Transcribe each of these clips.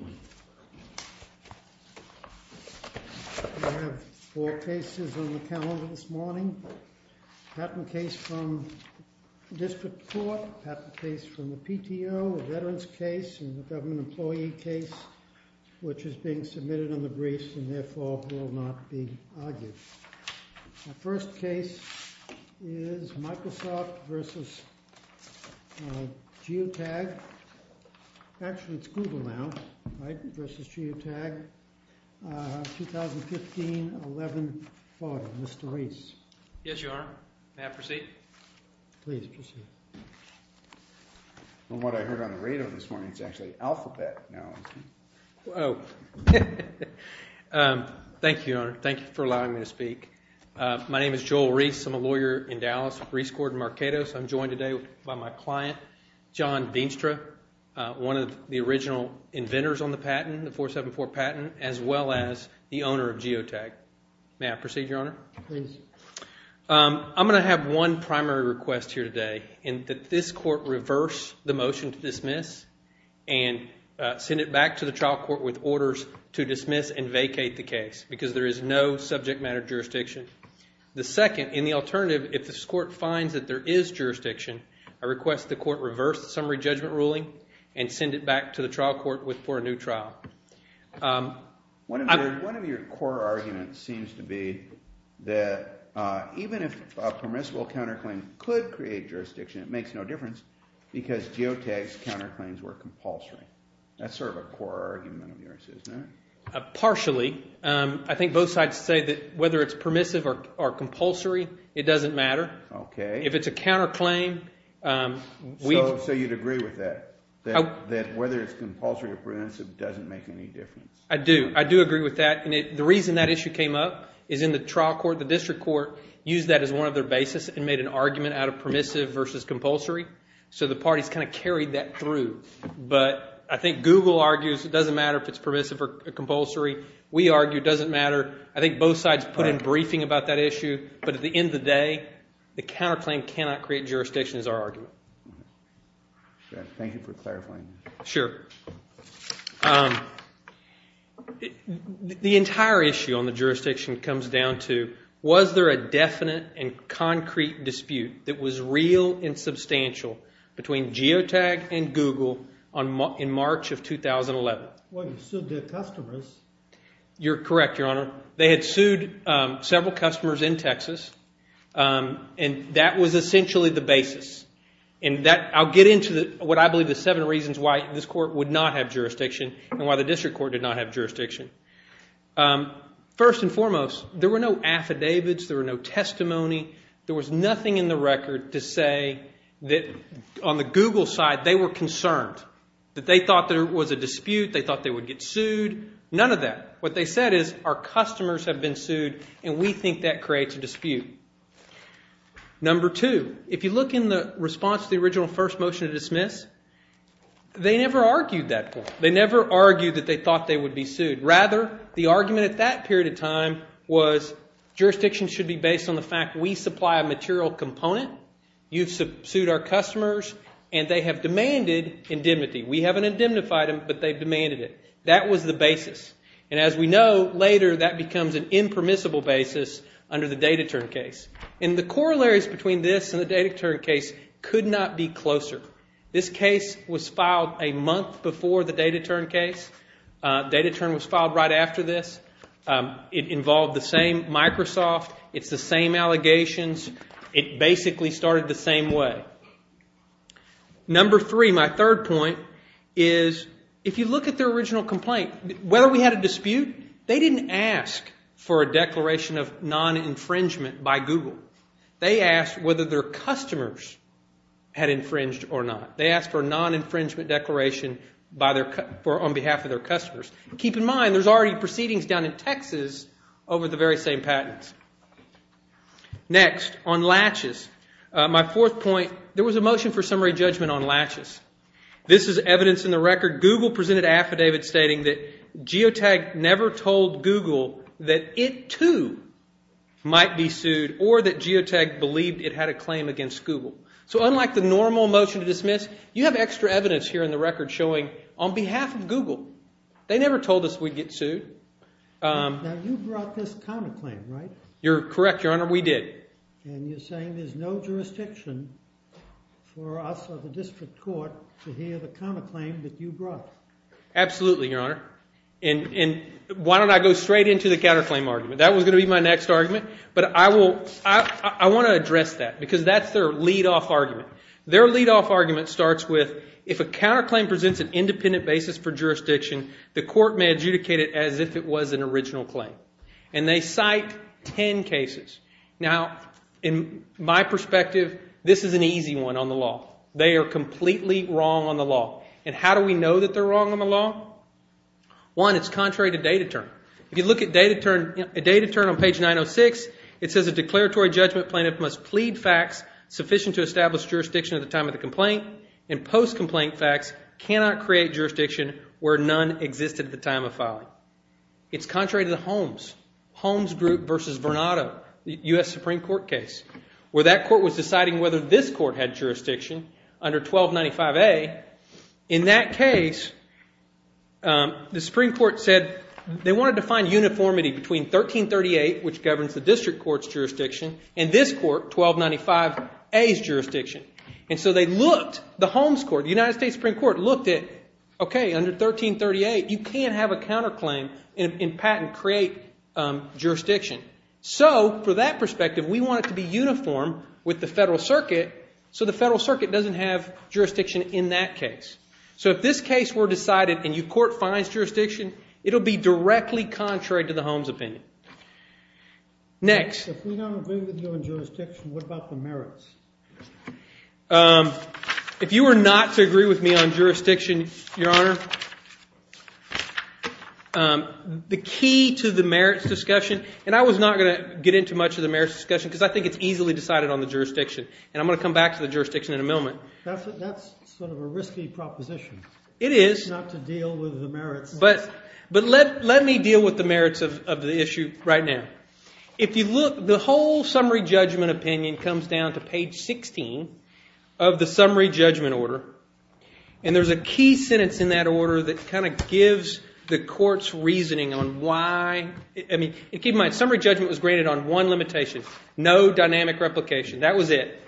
We have four cases on the calendar this morning, a patent case from the district court, a patent case from the PTO, a veteran's case, and a government employee case which is being submitted in the briefs and therefore will not be argued. The first case is Microsoft v. GeoTag. Actually, it's Google now, right, v. GeoTag, 2015-11-40. Mr. Rees. Yes, Your Honor. May I proceed? Please proceed. From what I heard on the radio this morning, it's actually alphabet now, isn't it? Thank you, Your Honor. Thank you for allowing me to speak. My name is Joel Rees. I'm a lawyer in Dallas at Rees Court in Marquettos. I'm joined today by my client, John Veenstra, one of the original inventors on the patent, the 474 patent, as well as the owner of GeoTag. May I proceed, Your Honor? Please. I'm going to have one primary request here today in that this court reverse the motion to dismiss and send it back to the trial court with orders to dismiss and vacate the case because there is no subject matter jurisdiction. The second, in the alternative, if this court finds that there is jurisdiction, I request the court reverse the summary judgment ruling and send it back to the trial court for a new trial. One of your core arguments seems to be that even if a permissible counterclaim could create jurisdiction, it makes no difference because GeoTag's counterclaims were compulsory. That's sort of a core argument of yours, isn't it? Partially. I think both sides say that whether it's permissive or compulsory, it doesn't matter. Okay. So you'd agree with that, that whether it's compulsory or permissive doesn't make any difference? I do. I do agree with that. And the reason that issue came up is in the trial court, the district court used that as one of their basis and made an argument out of permissive versus compulsory. So the parties kind of carried that through. But I think Google argues it doesn't matter if it's permissive or compulsory. We argue it doesn't matter. I think both sides put in briefing about that issue. But at the end of the day, the counterclaim cannot create jurisdiction is our argument. Thank you for clarifying. Sure. The entire issue on the jurisdiction comes down to was there a definite and concrete dispute that was real and substantial between GeoTag and Google in March of 2011? Well, you still did customers. You're correct, Your Honor. They had sued several customers in Texas, and that was essentially the basis. And I'll get into what I believe the seven reasons why this court would not have jurisdiction and why the district court did not have jurisdiction. First and foremost, there were no affidavits. There were no testimony. There was nothing in the record to say that on the Google side they were concerned, that they thought there was a dispute. They thought they would get sued. None of that. What they said is our customers have been sued, and we think that creates a dispute. Number two, if you look in the response to the original first motion to dismiss, they never argued that point. They never argued that they thought they would be sued. Rather, the argument at that period of time was jurisdiction should be based on the fact we supply a material component. You've sued our customers, and they have demanded indemnity. We haven't indemnified them, but they've demanded it. That was the basis. And as we know, later that becomes an impermissible basis under the Data Turn case. And the corollaries between this and the Data Turn case could not be closer. This case was filed a month before the Data Turn case. Data Turn was filed right after this. It involved the same Microsoft. It's the same allegations. It basically started the same way. Number three, my third point, is if you look at their original complaint, whether we had a dispute, they didn't ask for a declaration of non-infringement by Google. They asked whether their customers had infringed or not. They asked for a non-infringement declaration on behalf of their customers. Keep in mind, there's already proceedings down in Texas over the very same patents. Next, on latches, my fourth point, there was a motion for summary judgment on latches. This is evidence in the record. Google presented an affidavit stating that Geotag never told Google that it, too, might be sued or that Geotag believed it had a claim against Google. So unlike the normal motion to dismiss, you have extra evidence here in the record showing on behalf of Google. They never told us we'd get sued. Now, you brought this counterclaim, right? You're correct, Your Honor. We did. And you're saying there's no jurisdiction for us or the district court to hear the counterclaim that you brought? Absolutely, Your Honor. And why don't I go straight into the counterclaim argument? That was going to be my next argument, but I want to address that because that's their lead-off argument. Their lead-off argument starts with, if a counterclaim presents an independent basis for jurisdiction, the court may adjudicate it as if it was an original claim. And they cite ten cases. Now, in my perspective, this is an easy one on the law. They are completely wrong on the law. And how do we know that they're wrong on the law? One, it's contrary to data term. If you look at data term on page 906, it says, a declaratory judgment plaintiff must plead facts sufficient to establish jurisdiction at the time of the complaint, and post-complaint facts cannot create jurisdiction where none existed at the time of filing. It's contrary to the Holmes Group v. Vernado, the U.S. Supreme Court case, where that court was deciding whether this court had jurisdiction under 1295A. In that case, the Supreme Court said they wanted to find uniformity between 1338, which governs the district court's jurisdiction, and this court, 1295A's jurisdiction. And so they looked, the Holmes Court, the United States Supreme Court, looked at, okay, under 1338, you can't have a counterclaim in patent create jurisdiction. So, for that perspective, we want it to be uniform with the Federal Circuit so the Federal Circuit doesn't have jurisdiction in that case. So if this case were decided and your court finds jurisdiction, it will be directly contrary to the Holmes opinion. Next. If we don't agree with you on jurisdiction, what about the merits? If you were not to agree with me on jurisdiction, Your Honor, the key to the merits discussion, and I was not going to get into much of the merits discussion because I think it's easily decided on the jurisdiction, and I'm going to come back to the jurisdiction in a moment. That's sort of a risky proposition. It is. It's not to deal with the merits. But let me deal with the merits of the issue right now. If you look, the whole summary judgment opinion comes down to page 16 of the summary judgment order, and there's a key sentence in that order that kind of gives the court's reasoning on why, I mean, keep in mind, summary judgment was graded on one limitation, no dynamic replication. That was it.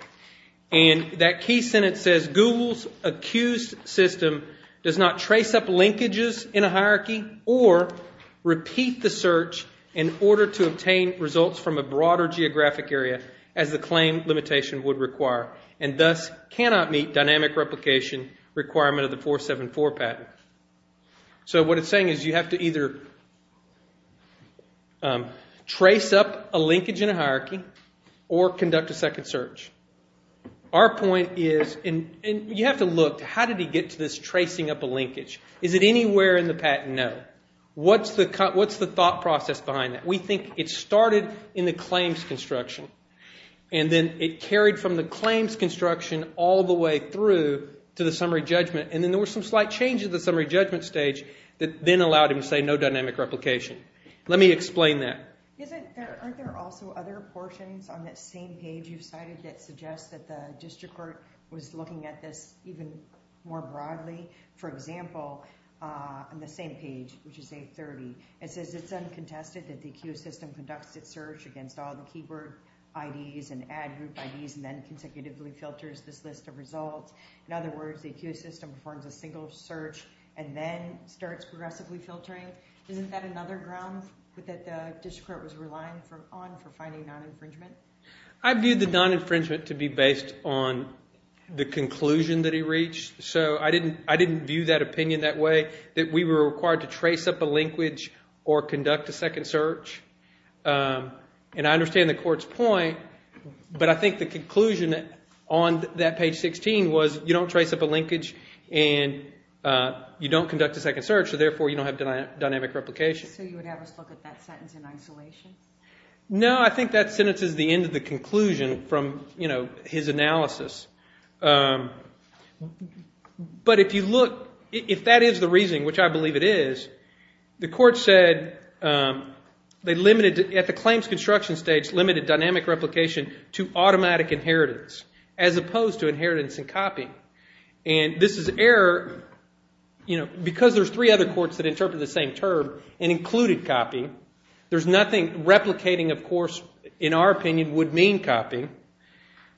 And that key sentence says, Google's accused system does not trace up linkages in a hierarchy or repeat the search in order to obtain results from a broader geographic area as the claim limitation would require and thus cannot meet dynamic replication requirement of the 474 patent. So what it's saying is you have to either trace up a linkage in a hierarchy or conduct a second search. Our point is, and you have to look, how did he get to this tracing up a linkage? Is it anywhere in the patent? No. What's the thought process behind that? We think it started in the claims construction, and then it carried from the claims construction all the way through to the summary judgment, and then there was some slight change in the summary judgment stage that then allowed him to say no dynamic replication. Let me explain that. Aren't there also other portions on that same page you've cited that suggest that the district court was looking at this even more broadly? For example, on the same page, which is 830, it says it's uncontested that the accused system conducts its search against all the keyword IDs and ad group IDs and then consecutively filters this list of results. In other words, the accused system performs a single search and then starts progressively filtering. Isn't that another ground that the district court was relying on for finding non-infringement? I view the non-infringement to be based on the conclusion that he reached. So I didn't view that opinion that way, that we were required to trace up a linkage or conduct a second search. And I understand the court's point, but I think the conclusion on that page 16 was you don't trace up a linkage and you don't conduct a second search, so therefore you don't have dynamic replication. So you would have us look at that sentence in isolation? No, I think that sentence is the end of the conclusion from his analysis. But if you look, if that is the reasoning, which I believe it is, the court said they limited, at the claims construction stage, limited dynamic replication to automatic inheritance as opposed to inheritance and copying. And this is error because there's three other courts that interpret the same term and included copying. There's nothing replicating, of course, in our opinion, would mean copying.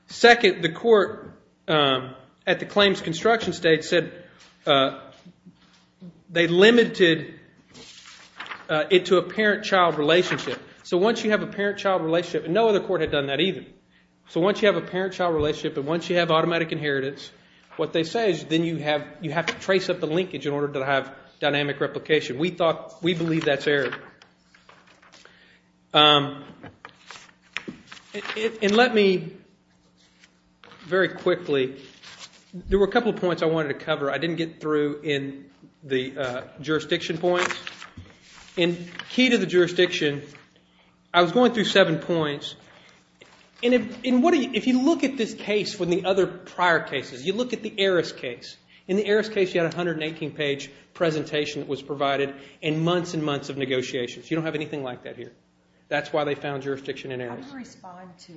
Second, the court at the claims construction stage said they limited it to a parent-child relationship. So once you have a parent-child relationship, and no other court had done that either, so once you have a parent-child relationship and once you have automatic inheritance, what they say is then you have to trace up the linkage in order to have dynamic replication. We believe that's error. And let me, very quickly, there were a couple of points I wanted to cover. I didn't get through in the jurisdiction points. In key to the jurisdiction, I was going through seven points. And if you look at this case from the other prior cases, you look at the Aris case. In the Aris case, you had a 180-page presentation that was provided and months and months of negotiations. You don't have anything like that here. That's why they found jurisdiction in Aris. Do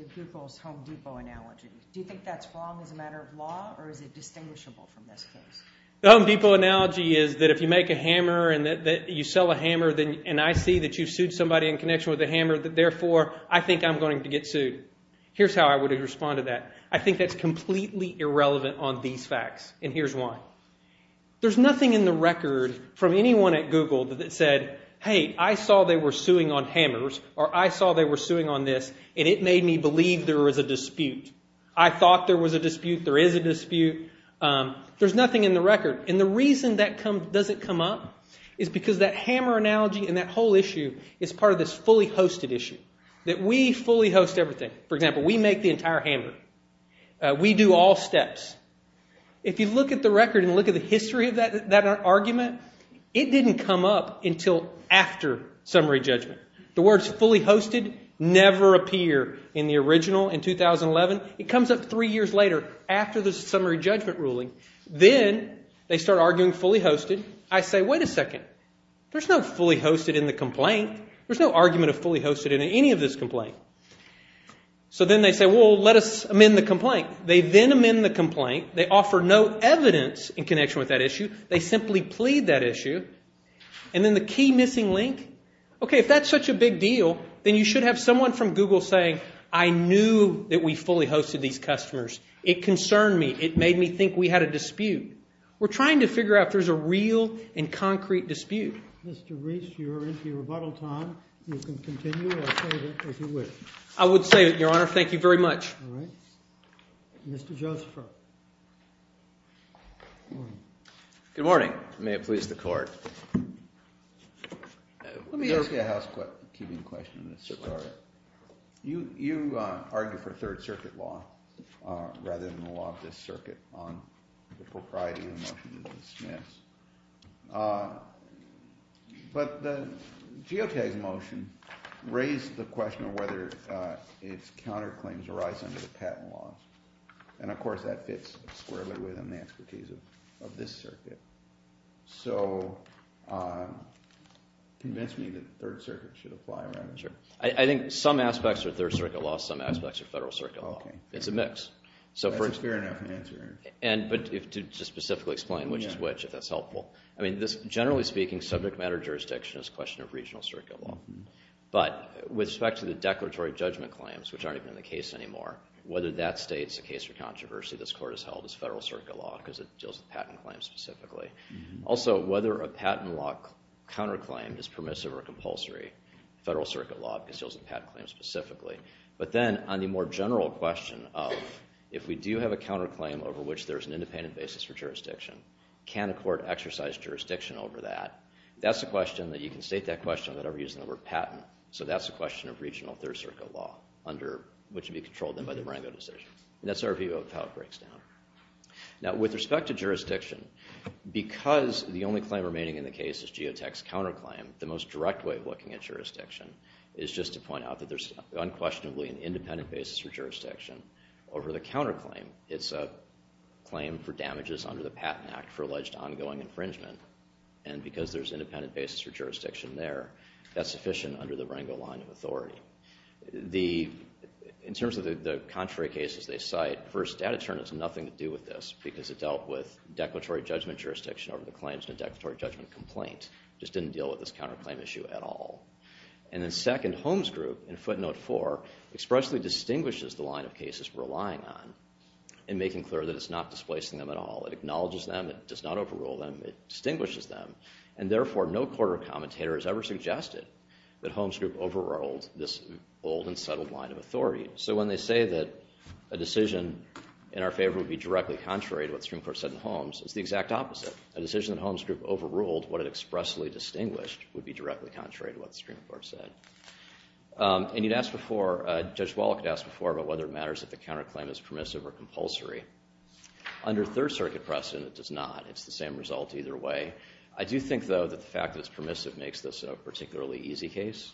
you think that's wrong as a matter of law, or is it distinguishable from this case? The Home Depot analogy is that if you make a hammer and you sell a hammer, and I see that you've sued somebody in connection with a hammer, therefore, I think I'm going to get sued. Here's how I would respond to that. I think that's completely irrelevant on these facts, and here's why. There's nothing in the record from anyone at Google that said, hey, I saw they were suing on hammers, or I saw they were suing on this, and it made me believe there was a dispute. I thought there was a dispute. There is a dispute. There's nothing in the record, and the reason that doesn't come up is because that hammer analogy and that whole issue is part of this fully hosted issue, that we fully host everything. For example, we make the entire hammer. We do all steps. If you look at the record and look at the history of that argument, it didn't come up until after summary judgment. The words fully hosted never appear in the original in 2011. It comes up three years later after the summary judgment ruling. Then they start arguing fully hosted. I say, wait a second, there's no fully hosted in the complaint. There's no argument of fully hosted in any of this complaint. So then they say, well, let us amend the complaint. They then amend the complaint. They offer no evidence in connection with that issue. They simply plead that issue, and then the key missing link, okay, if that's such a big deal, then you should have someone from Google saying, I knew that we fully hosted these customers. It concerned me. It made me think we had a dispute. We're trying to figure out if there's a real and concrete dispute. Mr. Reese, you're into your rebuttal time. You can continue or save it if you wish. I would save it, Your Honor. Thank you very much. All right. Mr. Josepher. Good morning. May it please the Court. Let me ask you a housekeeping question. You argue for third circuit law rather than the law of this circuit on the propriety of the motion to dismiss. But the geotagged motion raised the question of whether its counterclaims arise under the patent law. And, of course, that fits squarely with the expertise of this circuit. So convince me that third circuit should apply rather than third. Sure. I think some aspects are third circuit law, some aspects are federal circuit law. It's a mix. That's a fair enough answer. But to specifically explain which is which, if that's helpful. I mean, generally speaking, subject matter jurisdiction is a question of regional circuit law. But with respect to the declaratory judgment claims, which aren't even in the case anymore, whether that states a case for controversy this Court has held is federal circuit law because it deals with patent claims specifically. Also, whether a patent law counterclaim is permissive or compulsory, federal circuit law because it deals with patent claims specifically. But then on the more general question of if we do have a counterclaim over which there is an independent basis for jurisdiction, can a court exercise jurisdiction over that? That's a question that you can state that question without ever using the word patent. So that's a question of regional third circuit law, which would be controlled then by the Marengo decision. And that's our view of how it breaks down. Now, with respect to jurisdiction, because the only claim remaining in the case is Geotech's counterclaim, the most direct way of looking at jurisdiction is just to point out that there's unquestionably an independent basis for jurisdiction over the counterclaim. It's a claim for damages under the Patent Act for alleged ongoing infringement. And because there's independent basis for jurisdiction there, that's sufficient under the Marengo line of authority. In terms of the contrary cases they cite, first, data turn is nothing to do with this because it dealt with declaratory judgment jurisdiction over the claims in a declaratory judgment complaint. It just didn't deal with this counterclaim issue at all. And then second, Holmes Group in footnote four expressly distinguishes the line of cases we're relying on in making clear that it's not displacing them at all. It acknowledges them. It does not overrule them. It distinguishes them. And therefore, no court or commentator has ever suggested that Holmes Group overruled this old and settled line of authority. So when they say that a decision in our favor would be directly contrary to what the Supreme Court said in Holmes, it's the exact opposite. A decision that Holmes Group overruled, what it expressly distinguished, would be directly contrary to what the Supreme Court said. And you'd ask before, Judge Wallach had asked before about whether it matters if the counterclaim is permissive or compulsory. Under Third Circuit precedent, it does not. It's the same result either way. I do think, though, that the fact that it's permissive makes this a particularly easy case.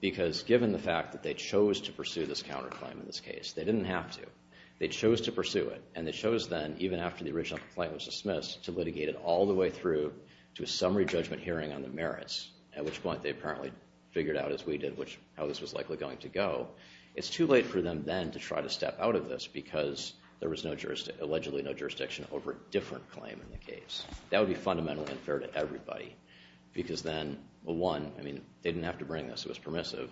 Because given the fact that they chose to pursue this counterclaim in this case, they didn't have to. They chose to pursue it. And they chose then, even after the original complaint was dismissed, to litigate it all the way through to a summary judgment hearing on the merits, at which point they apparently figured out, as we did, how this was likely going to go. It's too late for them then to try to step out of this because there was allegedly no jurisdiction over a different claim in the case. That would be fundamentally unfair to everybody. Because then, well, one, I mean, they didn't have to bring this. It was permissive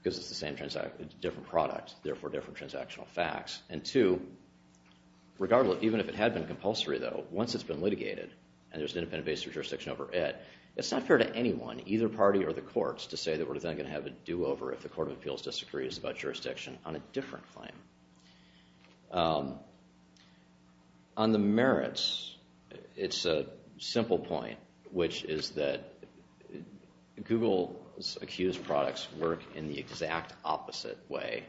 because it's a different product, therefore different transactional facts. And two, regardless, even if it had been compulsory, though, once it's been litigated and there's an independent base of jurisdiction over it, it's not fair to anyone, either party or the courts, to say that we're then going to have a do-over if the Court of Appeals disagrees about jurisdiction on a different claim. On the merits, it's a simple point, which is that Google's accused products work in the exact opposite way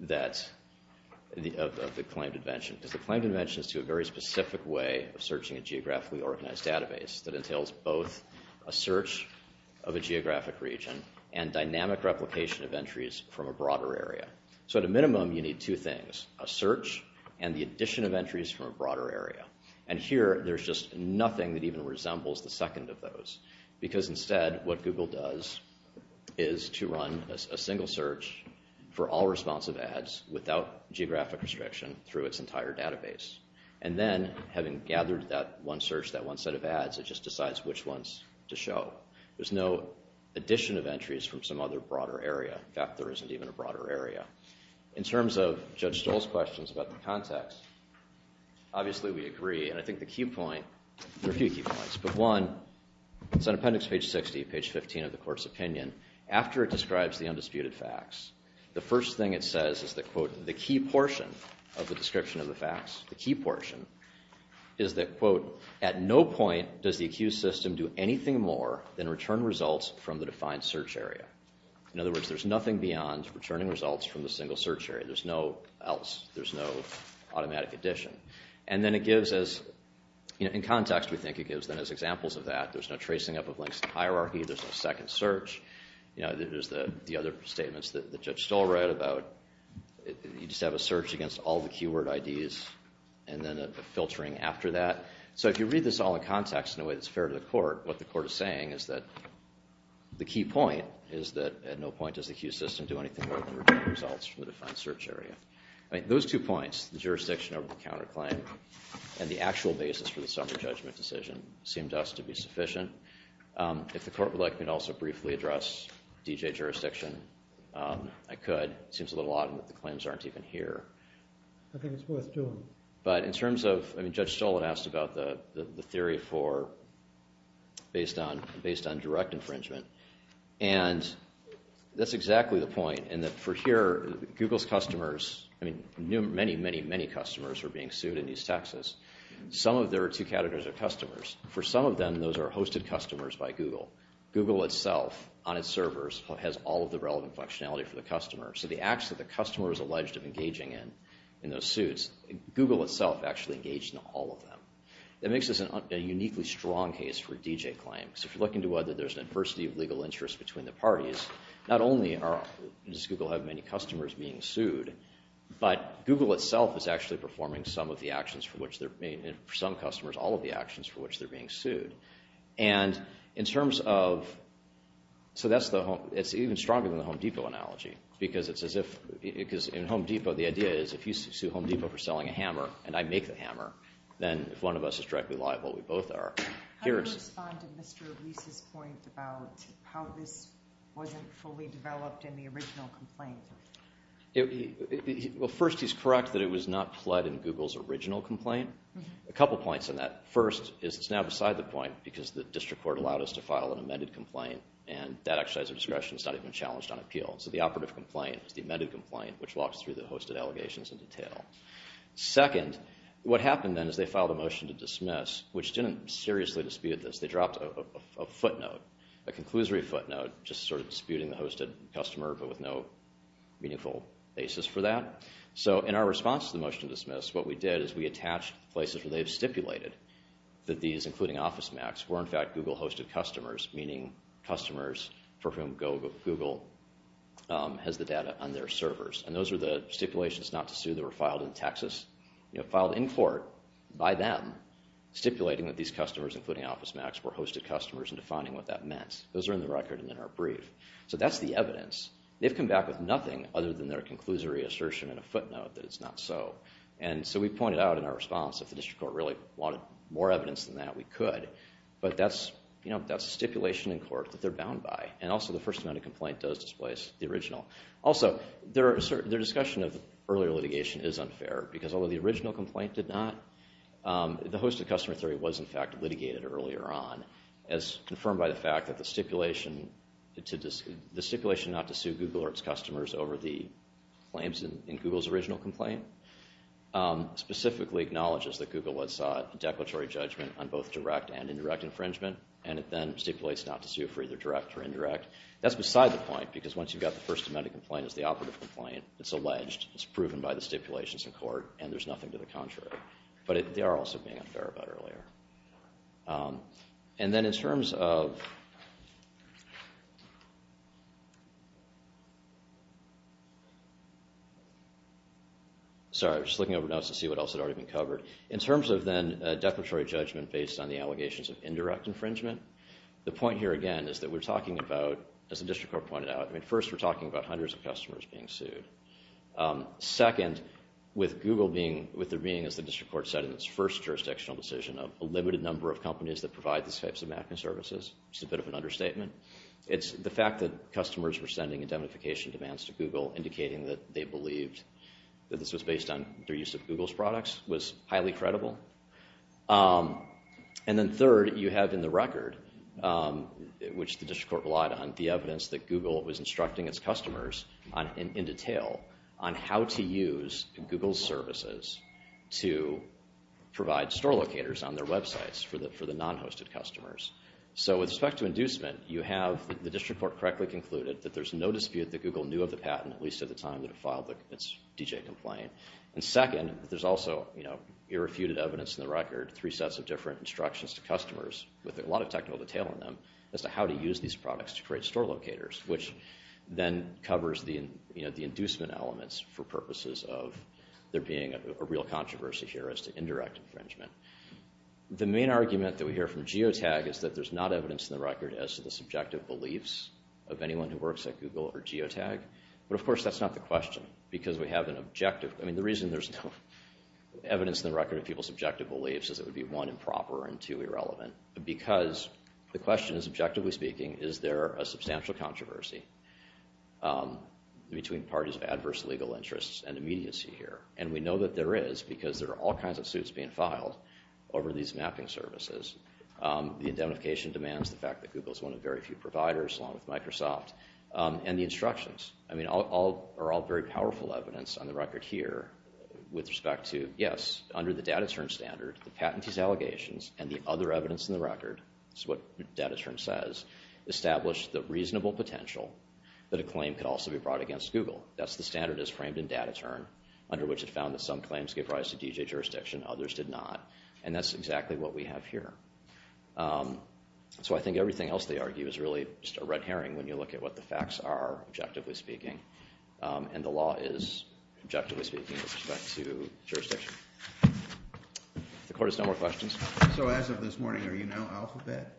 of the claimed invention. Because the claimed invention is to a very specific way of searching a geographically organized database that entails both a search of a geographic region and dynamic replication of entries from a broader area. So at a minimum, you need two things, a search and the addition of entries from a broader area. And here, there's just nothing that even resembles the second of those. Because instead, what Google does is to run a single search for all responsive ads without geographic restriction through its entire database. And then, having gathered that one search, that one set of ads, it just decides which ones to show. There's no addition of entries from some other broader area. In fact, there isn't even a broader area. In terms of Judge Stoll's questions about the context, obviously, we agree. And I think the key point, there are a few key points. But one, it's on appendix page 60, page 15 of the court's opinion. After it describes the undisputed facts, the first thing it says is that, quote, the key portion of the description of the facts, the key portion, is that, quote, at no point does the accused system do anything more than return results from the defined search area. In other words, there's nothing beyond returning results from the single search area. There's no else. There's no automatic addition. And then it gives us, in context, we think it gives them as examples of that. There's no tracing up of links in the hierarchy. There's no second search. There's the other statements that Judge Stoll wrote about you just have a search against all the keyword IDs and then a filtering after that. What the court is saying is that the key point is that at no point does the accused system do anything more than return results from the defined search area. Those two points, the jurisdiction over the counterclaim and the actual basis for the summary judgment decision, seemed to us to be sufficient. If the court would like me to also briefly address DJ jurisdiction, I could. It seems a little odd that the claims aren't even here. I think it's worth doing. Judge Stoll had asked about the theory based on direct infringement. And that's exactly the point. For here, Google's customers, many, many, many customers are being sued in East Texas. Some of their two categories are customers. For some of them, those are hosted customers by Google. Google itself, on its servers, has all of the relevant functionality for the customer. So the acts that the customer is alleged of engaging in, in those suits, Google itself actually engaged in all of them. That makes this a uniquely strong case for a DJ claim. If you look into whether there's an adversity of legal interest between the parties, not only does Google have many customers being sued, but Google itself is actually performing some of the actions for which they're being sued. For some customers, all of the actions for which they're being sued. It's even stronger than the Home Depot analogy. Because in Home Depot, the idea is if you sue Home Depot for selling a hammer, and I make the hammer, then one of us is directly liable. We both are. How do you respond to Mr. Reese's point about how this wasn't fully developed in the original complaint? First, he's correct that it was not pled in Google's original complaint. A couple points on that. First, it's now beside the point because the district court allowed us to file an amended complaint, and that exercise of discretion is not even challenged on appeal. So the operative complaint is the amended complaint, which walks through the hosted allegations in detail. Second, what happened then is they filed a motion to dismiss, which didn't seriously dispute this. They dropped a footnote, a conclusory footnote, just sort of disputing the hosted customer but with no meaningful basis for that. So in our response to the motion to dismiss, what we did is we attached places where they have stipulated that these, including OfficeMax, were in fact Google-hosted customers, meaning customers for whom Google has the data on their servers. And those are the stipulations not to sue that were filed in Texas, filed in court by them, stipulating that these customers, including OfficeMax, were hosted customers and defining what that meant. Those are in the record and in our brief. So that's the evidence. They've come back with nothing other than their conclusory assertion and a footnote that it's not so. And so we pointed out in our response, if the district court really wanted more evidence than that, we could. But that's a stipulation in court that they're bound by. And also the first amount of complaint does displace the original. Also, their discussion of earlier litigation is unfair, because although the original complaint did not, the hosted customer theory was, in fact, litigated earlier on, as confirmed by the fact that the stipulation not to sue Google or its customers over the claims in Google's original complaint specifically acknowledges that Google was a declaratory judgment on both direct and indirect infringement. And it then stipulates not to sue for either direct or indirect. That's beside the point, because once you've got the First Amendment complaint as the operative complaint, it's alleged, it's proven by the stipulations in court, and there's nothing to the contrary. But they are also being unfair about earlier. And then in terms of... Sorry, I was just looking over notes to see what else had already been covered. In terms of then declaratory judgment based on the allegations of indirect infringement, the point here, again, is that we're talking about, as the district court pointed out, I mean, first we're talking about hundreds of customers being sued. Second, with Google being, with there being, as the district court said in its first jurisdictional decision, a limited number of companies that provide these types of mapping services, which is a bit of an understatement, it's the fact that customers were sending indemnification demands to Google indicating that they believed that this was based on their use of Google's products was highly credible. And then third, you have in the record, which the district court relied on, the evidence that Google was instructing its customers in detail on how to use Google's services to provide store locators on their websites for the non-hosted customers. So with respect to inducement, you have the district court correctly concluded that there's no dispute that Google knew of the patent, at least at the time that it filed its DJ complaint. And second, there's also irrefuted evidence in the record, three sets of different instructions to customers, with a lot of technical detail in them, as to how to use these products to create store locators, which then covers the inducement elements for purposes of there being a real controversy here as to indirect infringement. The main argument that we hear from Geotag is that there's not evidence in the record as to the subjective beliefs of anyone who works at Google or Geotag. But of course, that's not the question, because we have an objective, I mean, the reason there's no evidence in the record of people's subjective beliefs is it would be, one, improper, and two, irrelevant. Because the question is, objectively speaking, is there a substantial controversy between parties of adverse legal interests and immediacy here? And we know that there is, because there are all kinds of suits being filed over these mapping services. The indemnification demands the fact that Google's one of the very few providers, along with Microsoft. And the instructions, I mean, are all very powerful evidence on the record here with respect to, yes, under the DataTurn standard, the patentee's allegations and the other evidence in the record, that's what DataTurn says, establish the reasonable potential that a claim could also be brought against Google. That's the standard that's framed in DataTurn, under which it found that some claims gave rise to DJ jurisdiction, others did not. And that's exactly what we have here. So I think everything else they argue is really just a red herring when you look at what the facts are, objectively speaking. And the law is, objectively speaking, with respect to jurisdiction. If the court has no more questions. So as of this morning, are you now Alphabet?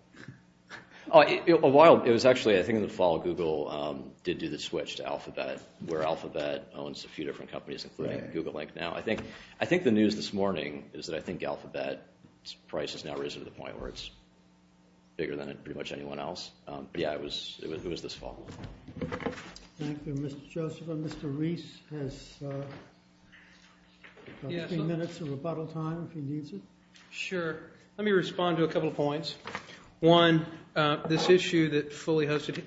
Oh, a while. It was actually, I think in the fall, Google did do the switch to Alphabet, where Alphabet owns a few different companies, including Google Inc. now. I think the news this morning is that I think Alphabet's price has now risen to the point where it's bigger than pretty much anyone else. But yeah, it was this fall. Thank you, Mr. Joseph. And Mr. Reese has a few minutes of rebuttal time if he needs it. Sure. Let me respond to a couple of points. One, this issue that fully hosted.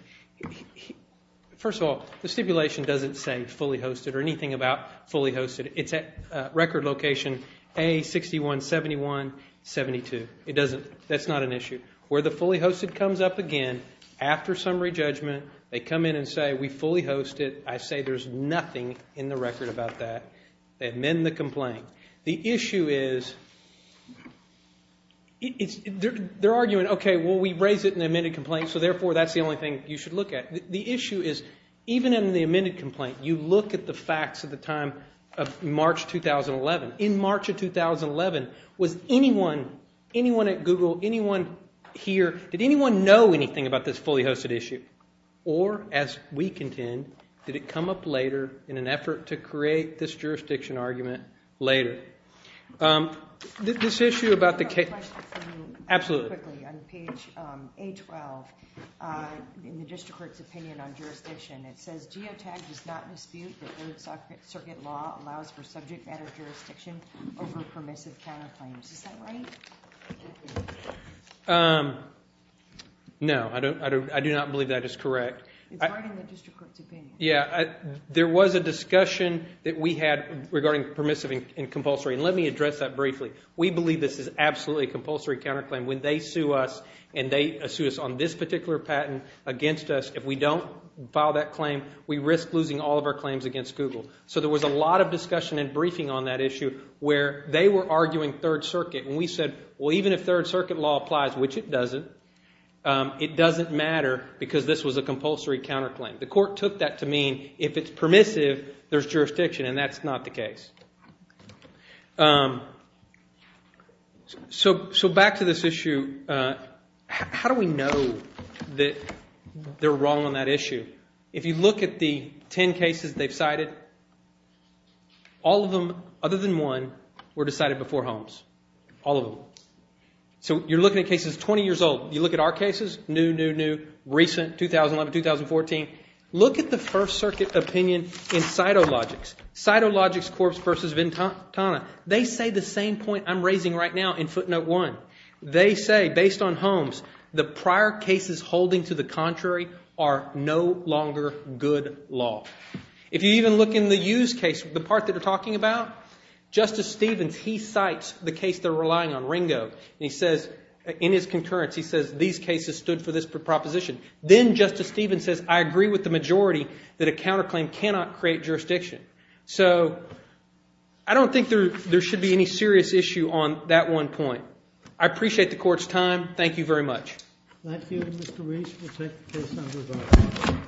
First of all, the stipulation doesn't say fully hosted or anything about fully hosted. It's at record location A617172. It doesn't. That's not an issue. Where the fully hosted comes up again after summary judgment, they come in and say, we fully hosted. I say there's nothing in the record about that. They amend the complaint. The issue is they're arguing, okay, well, we raise it in the amended complaint, so therefore that's the only thing you should look at. The issue is even in the amended complaint, you look at the facts at the time of March 2011. In March of 2011, was anyone, anyone at Google, anyone here, did anyone know anything about this fully hosted issue? Or, as we contend, did it come up later in an effort to create this jurisdiction argument later? This issue about the case. I have a question for you. Absolutely. On page A12 in the district court's opinion on jurisdiction, it says geotag does not dispute that third circuit law allows for subject matter jurisdiction over permissive counterclaims. Is that right? No. I do not believe that is correct. It's right in the district court's opinion. Yeah. There was a discussion that we had regarding permissive and compulsory, and let me address that briefly. We believe this is absolutely a compulsory counterclaim. When they sue us and they sue us on this particular patent against us, if we don't file that claim, we risk losing all of our claims against Google. So there was a lot of discussion and briefing on that issue where they were saying third circuit. And we said, well, even if third circuit law applies, which it doesn't, it doesn't matter because this was a compulsory counterclaim. The court took that to mean if it's permissive, there's jurisdiction, and that's not the case. So back to this issue, how do we know that they're wrong on that issue? If you look at the ten cases they've cited, all of them other than one were decided before Holmes. All of them. So you're looking at cases 20 years old. You look at our cases, new, new, new, recent, 2011, 2014. Look at the first circuit opinion in Cytologics. Cytologics Corp versus Ventana. They say the same point I'm raising right now in footnote one. They say, based on Holmes, the prior cases holding to the contrary are no longer good law. If you even look in the Hughes case, the part that they're talking about, Justice Stevens, he cites the case they're relying on, Ringo, and he says in his concurrence, he says, these cases stood for this proposition. Then Justice Stevens says, I agree with the majority that a counterclaim cannot create jurisdiction. So I don't think there should be any serious issue on that one point. I appreciate the court's time. Thank you very much. Thank you, Mr. Weiss. We'll take the case under review.